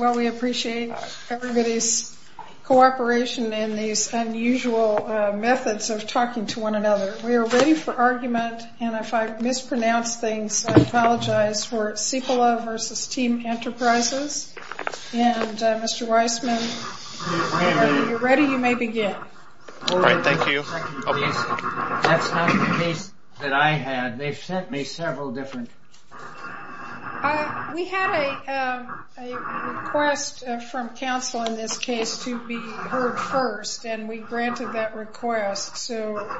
Well, we appreciate everybody's cooperation in these unusual methods of talking to one another. We are ready for argument, and if I mispronounce things, I apologize. We're Cipolla v. Team Enterprises, and Mr. Weissman, if you're ready, you may begin. Thank you. That's not the case that I had. They've sent me several different... We had a request from counsel in this case to be heard first, and we granted that request, so...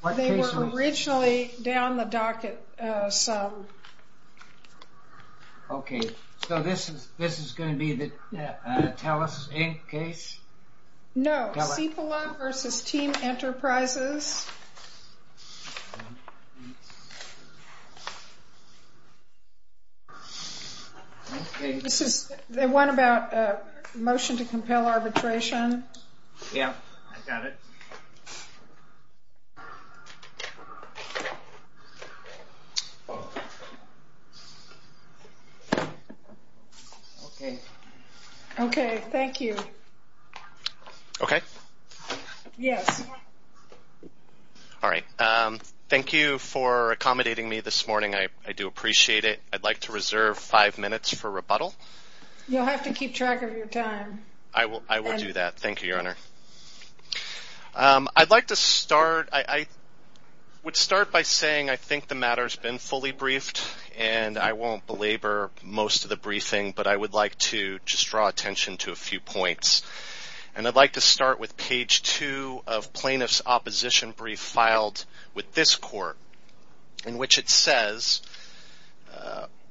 What case was this? They were originally down the docket some... Okay, so this is going to be the TELUS Inc. case? No, Cipolla v. Team Enterprises. This is the one about the motion to compel arbitration. Yeah, I got it. Okay. Okay, thank you. Okay. Yes. All right. Thank you for accommodating me this morning. I do appreciate it. I'd like to reserve five minutes for rebuttal. You'll have to keep track of your time. I will do that. Thank you, Your Honor. I'd like to start... I would start by saying I think the matter's been fully briefed, and I won't belabor most of the briefing, but I would like to just draw attention to a few points. And I'd like to start with page two of plaintiff's opposition brief filed with this court, in which it says,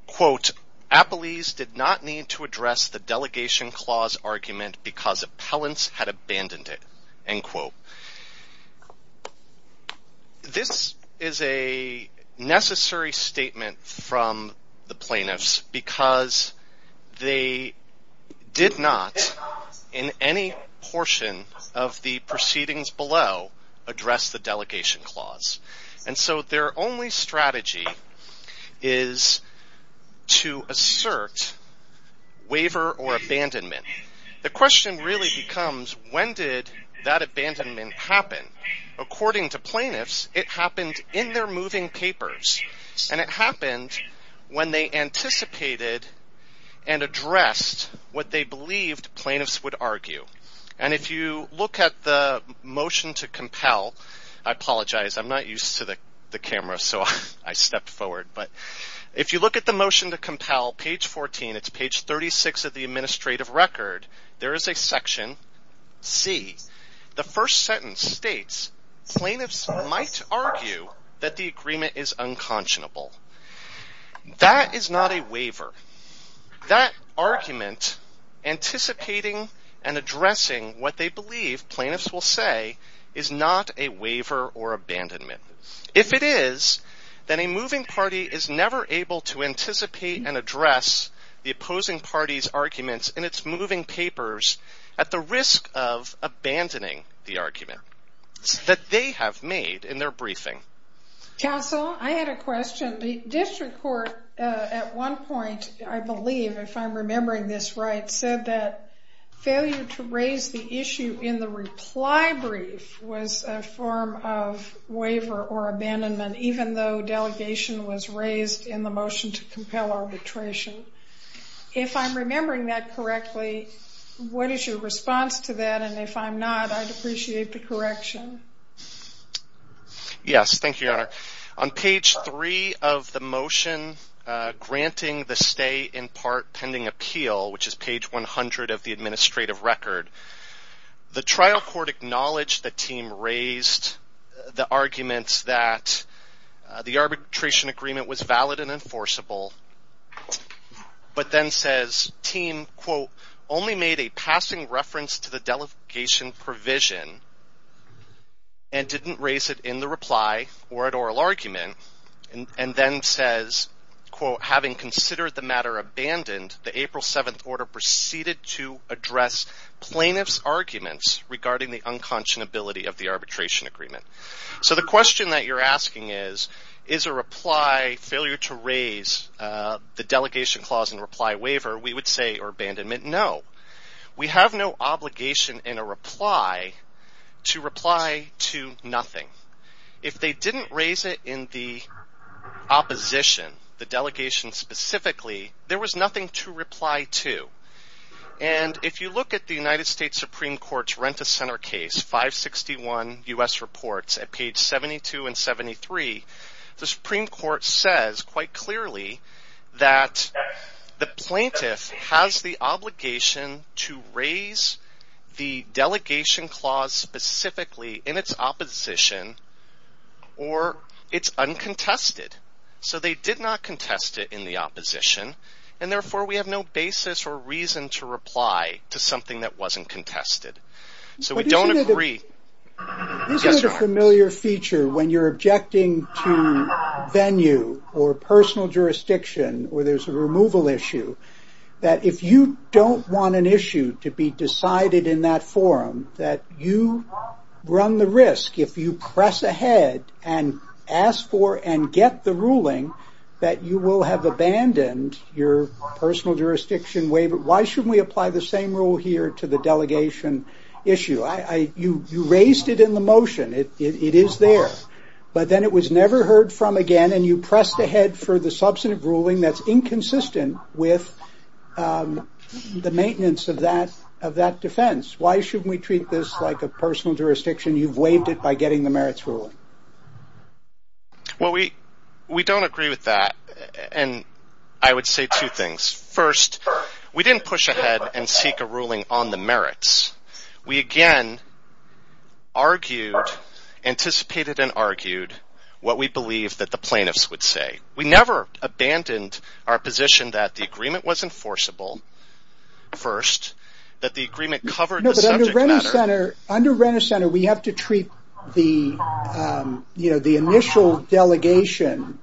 quote, This is a necessary statement from the plaintiffs because they did not, in any portion of the proceedings below, address the delegation clause. And so their only strategy is to assert waiver or abandonment. The question really becomes, when did that abandonment happen? According to plaintiffs, it happened in their moving papers, and it happened when they anticipated and addressed what they believed plaintiffs would argue. And if you look at the motion to compel, I apologize, I'm not used to the camera, so I stepped forward. But if you look at the motion to compel, page 14, it's page 36 of the administrative record, there is a section C. The first sentence states, Plaintiffs might argue that the agreement is unconscionable. That is not a waiver. That argument, anticipating and addressing what they believe plaintiffs will say, is not a waiver or abandonment. If it is, then a moving party is never able to anticipate and address the opposing party's arguments in its moving papers at the risk of abandoning the argument that they have made in their briefing. Counsel, I had a question. The district court at one point, I believe, if I'm remembering this right, said that failure to raise the issue in the reply brief was a form of waiver or abandonment, even though delegation was raised in the motion to compel arbitration. If I'm remembering that correctly, what is your response to that? And if I'm not, I'd appreciate the correction. Yes, thank you, Your Honor. On page 3 of the motion granting the stay in part pending appeal, which is page 100 of the administrative record, the trial court acknowledged that Thiem raised the arguments that the arbitration agreement was valid and enforceable, but then says Thiem, quote, only made a passing reference to the delegation provision and didn't raise it in the reply or at oral argument, and then says, quote, having considered the matter abandoned, the April 7th order proceeded to address plaintiff's arguments regarding the unconscionability of the arbitration agreement. So the question that you're asking is, is a reply failure to raise the delegation clause in reply waiver, we would say, or abandonment, no. We have no obligation in a reply to reply to nothing. If they didn't raise it in the opposition, the delegation specifically, there was nothing to reply to. And if you look at the United States Supreme Court's Renta Center case, 561 U.S. Reports at page 72 and 73, the Supreme Court says quite clearly that the plaintiff has the obligation to raise the delegation clause specifically in its opposition or it's uncontested. So they did not contest it in the opposition, and therefore we have no basis or reason to reply to something that wasn't contested. So we don't agree. Isn't it a familiar feature when you're objecting to venue or personal jurisdiction where there's a removal issue, that if you don't want an issue to be decided in that forum, that you run the risk if you press ahead and ask for and get the ruling that you will have abandoned your personal jurisdiction waiver. Why shouldn't we apply the same rule here to the delegation issue? You raised it in the motion. It is there. But then it was never heard from again, and you pressed ahead for the substantive ruling that's inconsistent with the maintenance of that defense. Why shouldn't we treat this like a personal jurisdiction? You've waived it by getting the merits ruling. Well, we don't agree with that, and I would say two things. First, we didn't push ahead and seek a ruling on the merits. We again argued, anticipated and argued what we believed that the plaintiffs would say. We never abandoned our position that the agreement was enforceable first, that the agreement covered the subject matter. No, but under Renner Center, we have to treat the initial delegation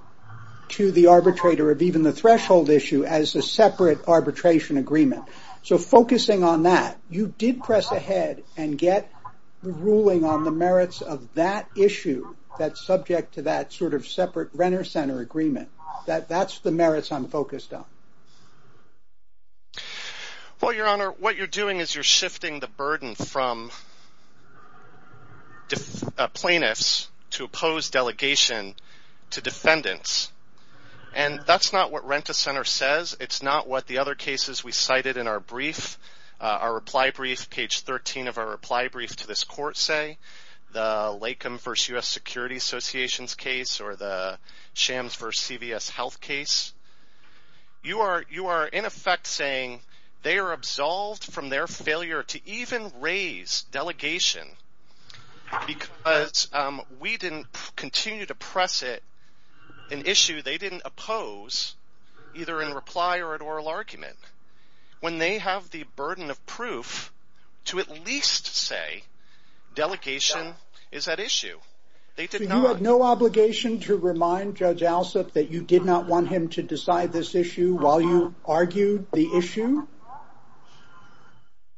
to the arbitrator of even the threshold issue as a separate arbitration agreement. So focusing on that, you did press ahead and get the ruling on the merits of that issue that's subject to that sort of separate Renner Center agreement. That's the merits I'm focused on. Well, Your Honor, what you're doing is you're shifting the burden from plaintiffs to oppose delegation to defendants, and that's not what Renner Center says. It's not what the other cases we cited in our brief, our reply brief, page 13 of our reply brief to this court say, the Lakeham v. U.S. Security Association's case or the Shams v. CVS Health case. You are, in effect, saying they are absolved from their failure to even raise delegation because we didn't continue to press it, an issue they didn't oppose, either in reply or an oral argument. When they have the burden of proof to at least say delegation is at issue, they did not. So you had no obligation to remind Judge Alsup that you did not want him to decide this issue while you argued the issue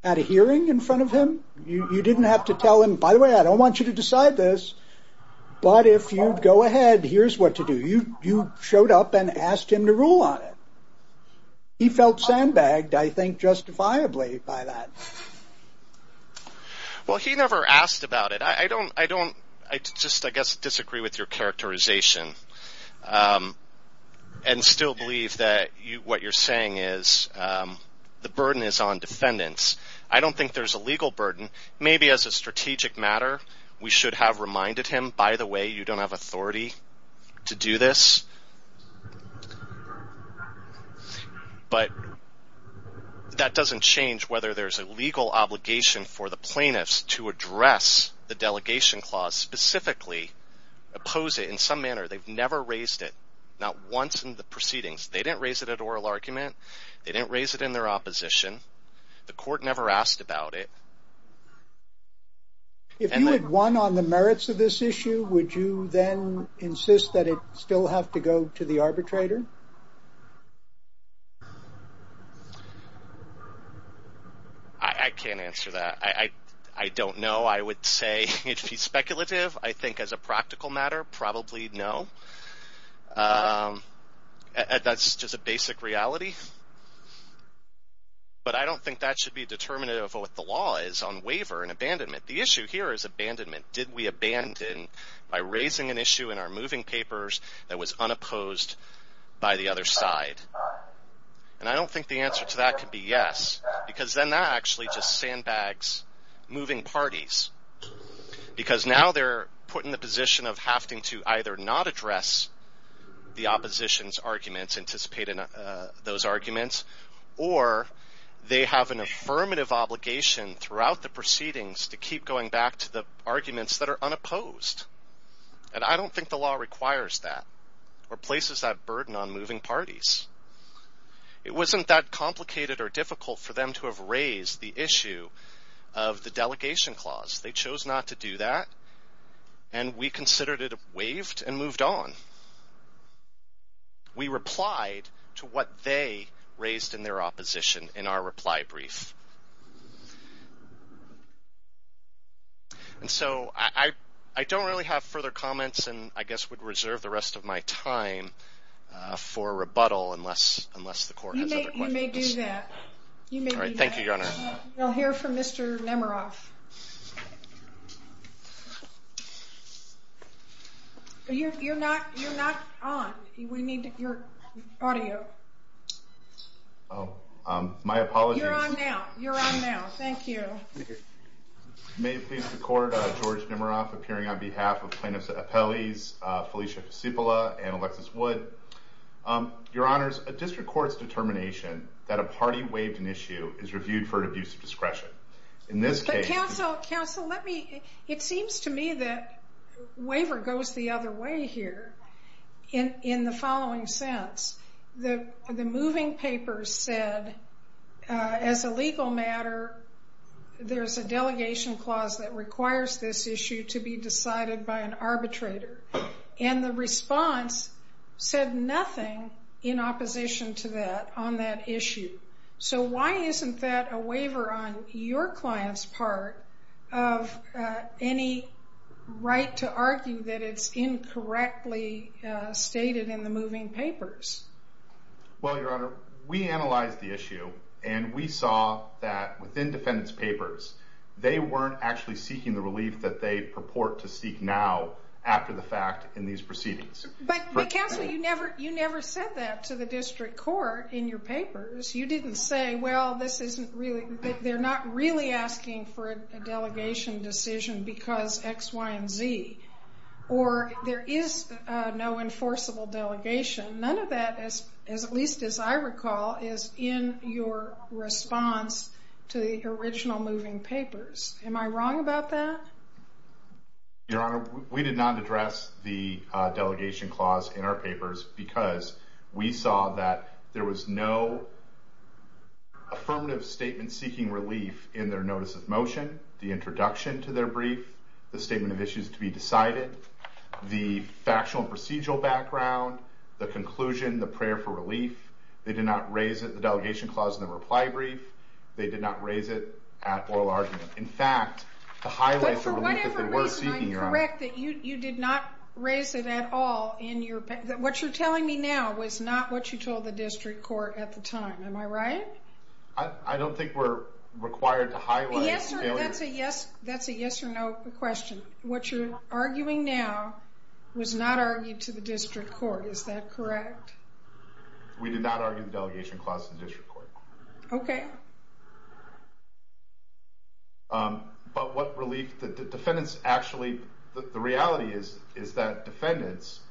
at a hearing in front of him? You didn't have to tell him, by the way, I don't want you to decide this, but if you go ahead, here's what to do. You showed up and asked him to rule on it. He felt sandbagged, I think, justifiably by that. Well, he never asked about it. I don't, I just, I guess, disagree with your characterization and still believe that what you're saying is the burden is on defendants. I don't think there's a legal burden. Maybe as a strategic matter we should have reminded him, by the way, you don't have authority to do this. But that doesn't change whether there's a legal obligation for the plaintiffs to address the delegation clause, specifically oppose it in some manner. They've never raised it, not once in the proceedings. They didn't raise it at oral argument. They didn't raise it in their opposition. The court never asked about it. If you had won on the merits of this issue, would you then insist that it still have to go to the arbitrator? I can't answer that. I don't know. I would say it would be speculative. I think as a practical matter, probably no. That's just a basic reality. But I don't think that should be determinative of what the law is on waiver and abandonment. The issue here is abandonment. Did we abandon by raising an issue in our moving papers that was unopposed by the other side? And I don't think the answer to that could be yes, because then that actually just sandbags moving parties, because now they're put in the position of having to either not address the opposition's arguments, anticipate those arguments, or they have an affirmative obligation throughout the proceedings to keep going back to the arguments that are unopposed. And I don't think the law requires that or places that burden on moving parties. It wasn't that complicated or difficult for them to have raised the issue of the delegation clause. They chose not to do that, and we considered it waived and moved on. We replied to what they raised in their opposition in our reply brief. And so I don't really have further comments and I guess would reserve the rest of my time for rebuttal unless the court has other questions. All right. Thank you, Your Honor. We'll hear from Mr. Nemeroff. You're not on. We need your audio. My apologies. You're on now. You're on now. Thank you. May it please the court, George Nemeroff, appearing on behalf of plaintiffs' appellees, Felicia Fisipola and Alexis Wood. Your Honors, a district court's determination that a party waived an issue is reviewed for an abuse of discretion. In this case- Counsel, let me- It seems to me that waiver goes the other way here in the following sense. The moving papers said, as a legal matter, there's a delegation clause that requires this issue to be decided by an arbitrator. And the response said nothing in opposition to that on that issue. So why isn't that a waiver on your client's part of any right to argue that it's incorrectly stated in the moving papers? Well, Your Honor, we analyzed the issue and we saw that within defendant's papers, they weren't actually seeking the relief that they purport to seek now after the fact in these proceedings. But Counsel, you never said that to the district court in your papers. You didn't say, well, this isn't really- they're not really asking for a delegation decision because X, Y, and Z. Or there is no enforceable delegation. None of that, at least as I recall, is in your response to the original moving papers. Am I wrong about that? Your Honor, we did not address the delegation clause in our papers because we saw that there was no affirmative statement seeking relief in their notice of motion, the introduction to their brief, the statement of issues to be decided, the factual and procedural background, the conclusion, the prayer for relief. They did not raise the delegation clause in the reply brief. They did not raise it at oral argument. In fact, to highlight the relief that they were seeking, Your Honor- But for whatever reason, I'm correct that you did not raise it at all in your- what you're telling me now was not what you told the district court at the time. Am I right? I don't think we're required to highlight- That's a yes or no question. What you're arguing now was not argued to the district court. Is that correct? We did not argue the delegation clause to the district court. Okay. But what relief that the defendants actually- the reality is that defendants,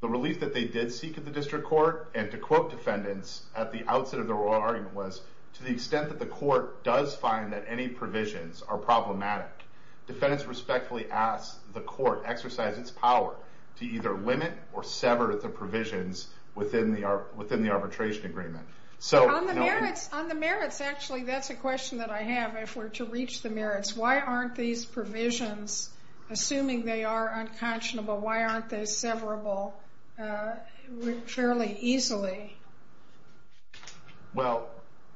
the relief that they did seek at the district court, and to quote defendants at the outset of their oral argument was, to the extent that the court does find that any provisions are problematic, defendants respectfully ask the court exercise its power to either limit or sever the provisions within the arbitration agreement. On the merits, actually, that's a question that I have. If we're to reach the merits, why aren't these provisions, assuming they are unconscionable, why aren't they severable fairly easily? Well,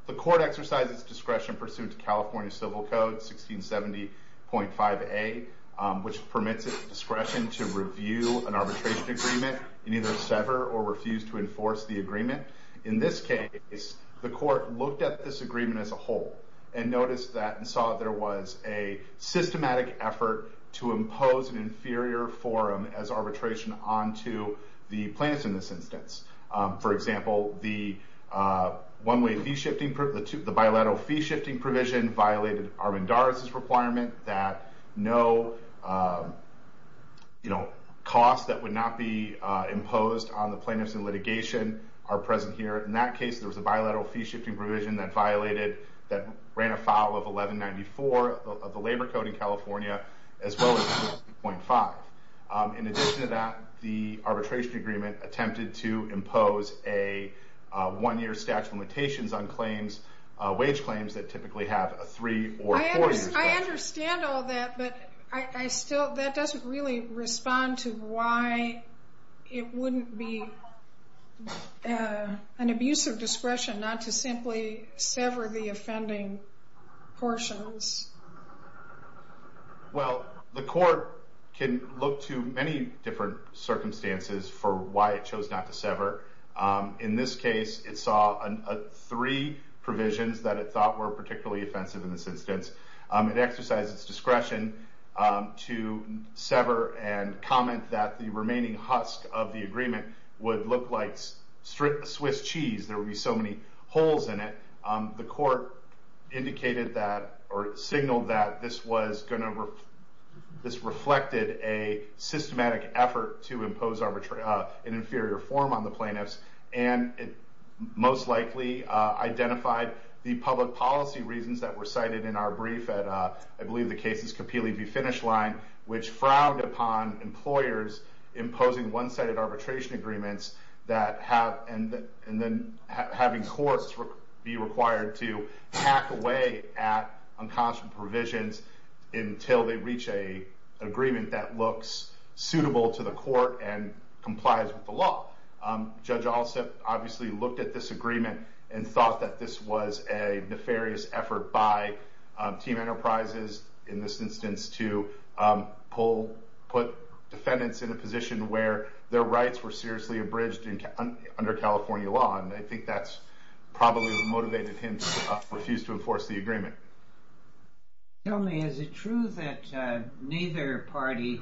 the court exercises discretion pursuant to California Civil Code 1670.5a, which permits its discretion to review an arbitration agreement and either sever or refuse to enforce the agreement. In this case, the court looked at this agreement as a whole and noticed that and saw that there was a systematic effort to impose an inferior forum as arbitration onto the plaintiffs in this instance. For example, the bilateral fee shifting provision violated Armendariz's requirement that no costs that would not be imposed on the plaintiffs in litigation are present here. In that case, there was a bilateral fee shifting provision that violated, that ran afoul of 1194 of the labor code in California as well as 1670.5. In addition to that, the arbitration agreement attempted to impose a one-year statute of limitations on claims, wage claims that typically have a three- or four-year statute. I understand all that, but that doesn't really respond to why it wouldn't be an abuse of discretion not to simply sever the offending portions. Well, the court can look to many different circumstances for why it chose not to sever. In this case, it saw three provisions that it thought were particularly offensive in this instance. It exercised its discretion to sever and comment that the remaining husk of the agreement would look like Swiss cheese. There would be so many holes in it. The court indicated that, or signaled that, this reflected a systematic effort to impose an inferior form on the plaintiffs, and it most likely identified the public policy reasons that were cited in our brief at, I believe, the Cases Kapili v. Finish line, which frowned upon employers imposing one-sided arbitration agreements and then having courts be required to hack away at unconscionable provisions until they reach an agreement that looks suitable to the court and complies with the law. Judge Alsup obviously looked at this agreement and thought that this was a nefarious effort by Team Enterprises, in this instance, to put defendants in a position where their rights were seriously abridged under California law, and I think that's probably what motivated him to refuse to enforce the agreement. Tell me, is it true that neither party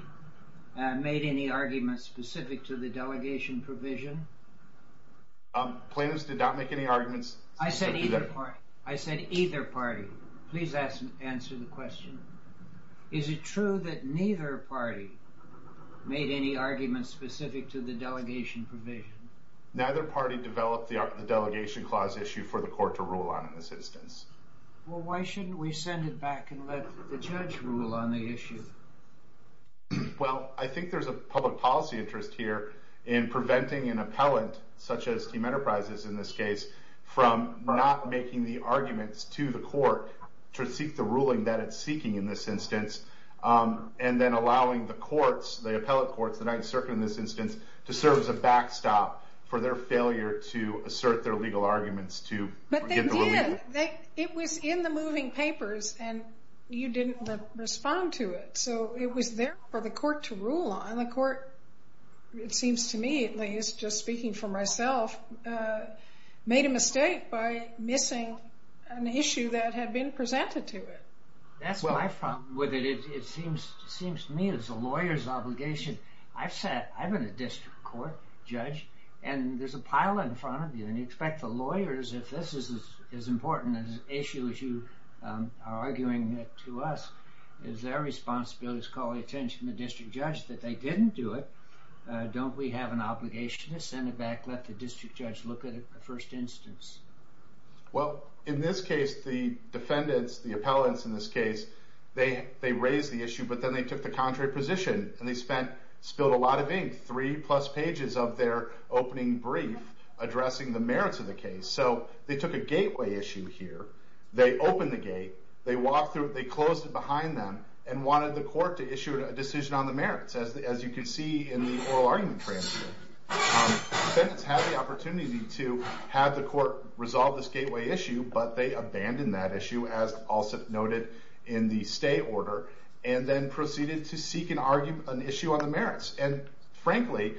made any arguments specific to the delegation provision? Plaintiffs did not make any arguments specific to that. I said either party. I said either party. Please answer the question. Is it true that neither party made any arguments specific to the delegation provision? Neither party developed the delegation clause issue for the court to rule on in this instance. Well, why shouldn't we send it back and let the judge rule on the issue? Well, I think there's a public policy interest here in preventing an appellant, such as Team Enterprises in this case, from not making the arguments to the court to seek the ruling that it's seeking in this instance, and then allowing the courts, the appellant courts, the Ninth Circuit in this instance, to serve as a backstop for their failure to assert their legal arguments to get the ruling. But they did. It was in the moving papers, and you didn't respond to it, so it was there for the court to rule on. The court, it seems to me at least, just speaking for myself, made a mistake by missing an issue that had been presented to it. That's my problem with it. It seems to me it's a lawyer's obligation. I've been a district court judge, and there's a pile in front of you, and you expect the lawyers, if this is as important an issue as you are arguing it to us, it's their responsibility to call the attention of the district judge that they didn't do it. Don't we have an obligation to send it back and let the district judge look at it in the first instance? Well, in this case, the defendants, the appellants in this case, they raised the issue, but then they took the contrary position, and they spilled a lot of ink, three-plus pages of their opening brief addressing the merits of the case. So they took a gateway issue here, they opened the gate, they closed it behind them, and wanted the court to issue a decision on the merits, as you can see in the oral argument transcript. The defendants had the opportunity to have the court resolve this gateway issue, but they abandoned that issue, as also noted in the stay order, and then proceeded to seek and argue an issue on the merits. And frankly,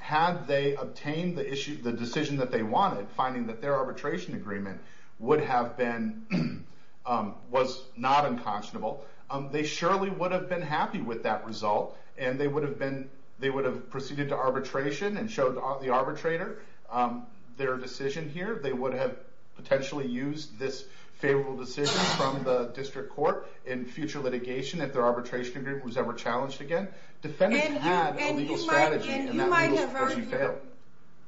had they obtained the decision that they wanted, finding that their arbitration agreement was not unconscionable, they surely would have been happy with that result, and they would have proceeded to arbitration and showed the arbitrator their decision here. They would have potentially used this favorable decision from the district court in future litigation if their arbitration agreement was ever challenged again. Defendants had a legal strategy, and that rule would have failed.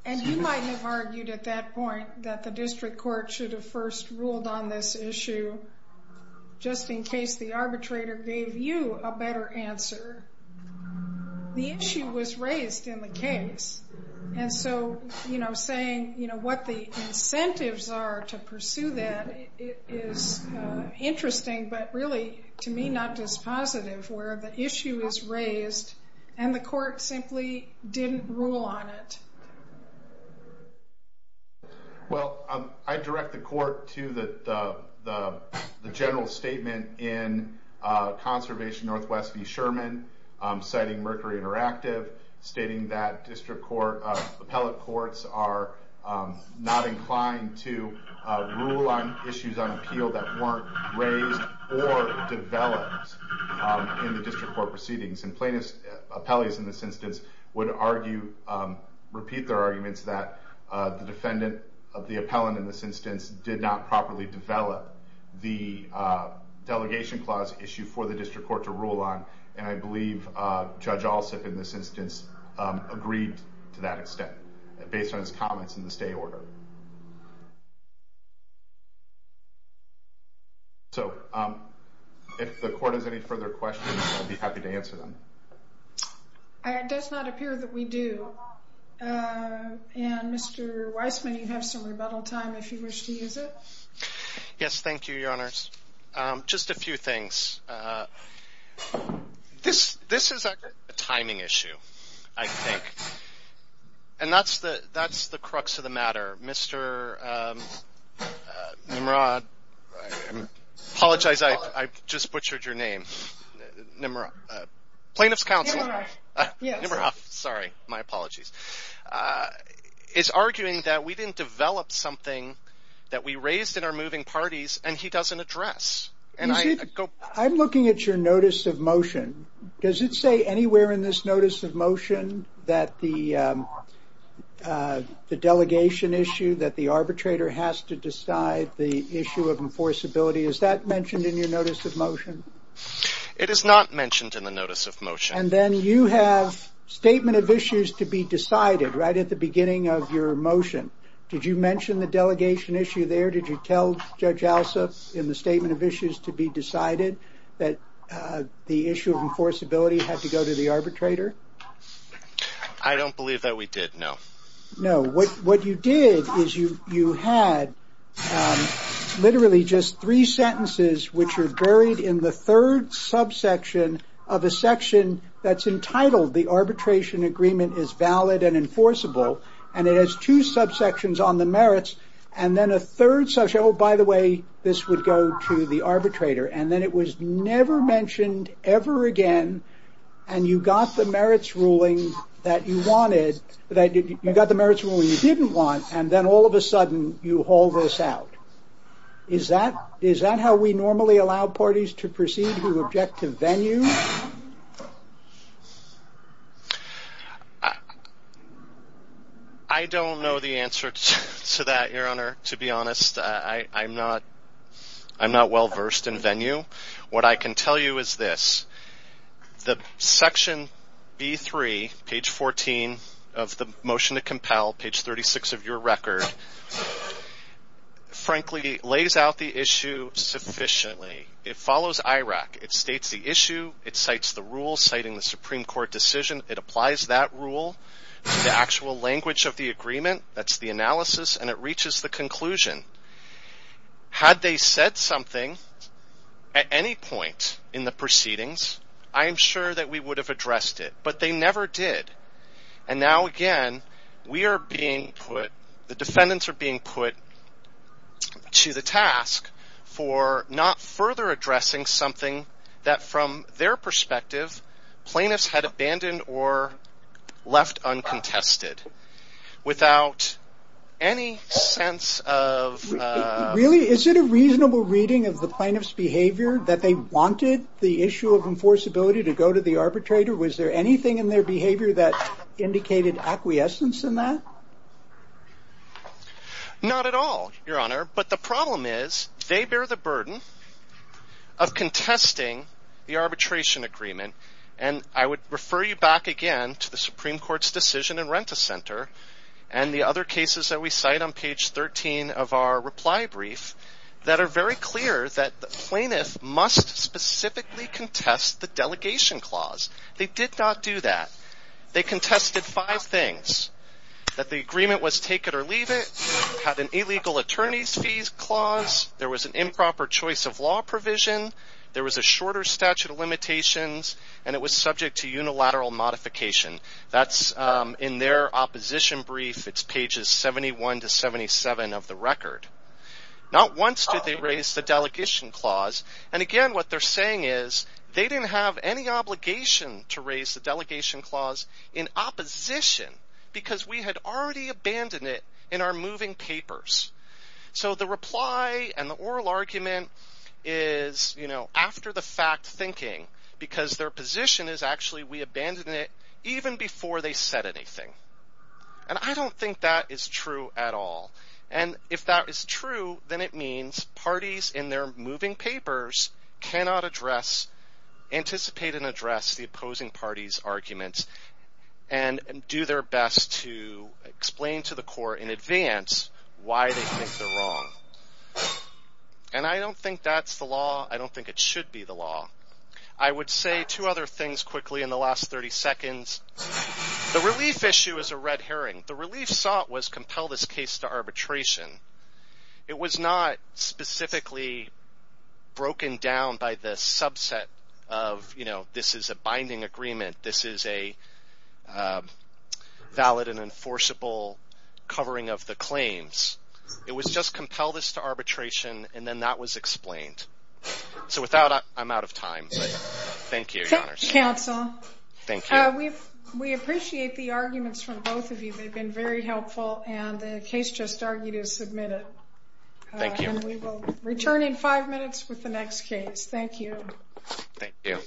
And you might have argued at that point that the district court should have first ruled on this issue, just in case the arbitrator gave you a better answer. The issue was raised in the case, and so saying what the incentives are to pursue that is interesting, but really, to me, not as positive, where the issue is raised and the court simply didn't rule on it. Well, I direct the court to the general statement in Conservation Northwest v. Sherman, citing Mercury Interactive, stating that district court, appellate courts, are not inclined to rule on issues on appeal that weren't raised or developed in the district court proceedings. And plaintiffs, appellees in this instance, would repeat their arguments that the defendant, the appellant in this instance, did not properly develop the delegation clause issue for the district court to rule on, and I believe Judge Alsip in this instance agreed to that extent based on his comments in the stay order. So if the court has any further questions, I'll be happy to answer them. It does not appear that we do, and Mr. Weissman, you have some rebuttal time if you wish to use it. Yes, thank you, Your Honors. Just a few things. This is a timing issue, I think, and that's the crux of the matter. Mr. Nimrod, I apologize, I just butchered your name. Nimrod, plaintiff's counsel. Nimrod, yes. Nimrod, sorry, my apologies, is arguing that we didn't develop something that we raised in our moving parties and he doesn't address. I'm looking at your notice of motion. Does it say anywhere in this notice of motion that the delegation issue, that the arbitrator has to decide the issue of enforceability, is that mentioned in your notice of motion? It is not mentioned in the notice of motion. And then you have statement of issues to be decided right at the beginning of your motion. Did you mention the delegation issue there? Did you tell Judge Alsip in the statement of issues to be decided that the issue of enforceability had to go to the arbitrator? I don't believe that we did, no. What you did is you had literally just three sentences which are buried in the third subsection of a section that's entitled the arbitration agreement is valid and enforceable, and it has two subsections on the merits, and then a third subsection, oh by the way, this would go to the arbitrator, and then it was never mentioned ever again, and you got the merits ruling that you wanted, you got the merits ruling you didn't want, and then all of a sudden you haul this out. Is that how we normally allow parties to proceed to objective venue? I don't know the answer to that, Your Honor, to be honest. I'm not well versed in venue. What I can tell you is this. The section B3, page 14 of the motion to compel, page 36 of your record, frankly lays out the issue sufficiently. It follows IRAC. It states the issue. It cites the rules citing the Supreme Court decision. It applies that rule to the actual language of the agreement. That's the analysis, and it reaches the conclusion. Had they said something at any point in the proceedings, I am sure that we would have addressed it, but they never did, and now again we are being put, the defendants are being put to the task for not further addressing something that from their perspective plaintiffs had abandoned or left uncontested without any sense of... Really, is it a reasonable reading of the plaintiff's behavior that they wanted the issue of enforceability to go to the arbitrator? Was there anything in their behavior that indicated acquiescence in that? Not at all, Your Honor, but the problem is they bear the burden of contesting the arbitration agreement, and I would refer you back again to the Supreme Court's decision in Renta Center and the other cases that we cite on page 13 of our reply brief that are very clear that the plaintiff must specifically contest the delegation clause. They did not do that. They contested five things, that the agreement was take it or leave it, had an illegal attorney's fees clause, there was an improper choice of law provision, there was a shorter statute of limitations, and it was subject to unilateral modification. That's in their opposition brief. It's pages 71 to 77 of the record. Not once did they raise the delegation clause, and again what they're saying is they didn't have any obligation to raise the delegation clause in opposition because we had already abandoned it in our moving papers. So the reply and the oral argument is after the fact thinking because their position is actually we abandoned it even before they said anything, and I don't think that is true at all, and if that is true then it means parties in their moving papers cannot anticipate and address the opposing parties' arguments and do their best to explain to the court in advance why they think they're wrong. And I don't think that's the law. I don't think it should be the law. I would say two other things quickly in the last 30 seconds. The relief issue is a red herring. The relief sought was compel this case to arbitration. It was not specifically broken down by the subset of this is a binding agreement, this is a valid and enforceable covering of the claims. It was just compel this to arbitration and then that was explained. So without, I'm out of time, but thank you, Your Honors. Counsel, we appreciate the arguments from both of you. They've been very helpful and the case just argued is submitted. Thank you. And we will return in five minutes with the next case. Thank you. Thank you.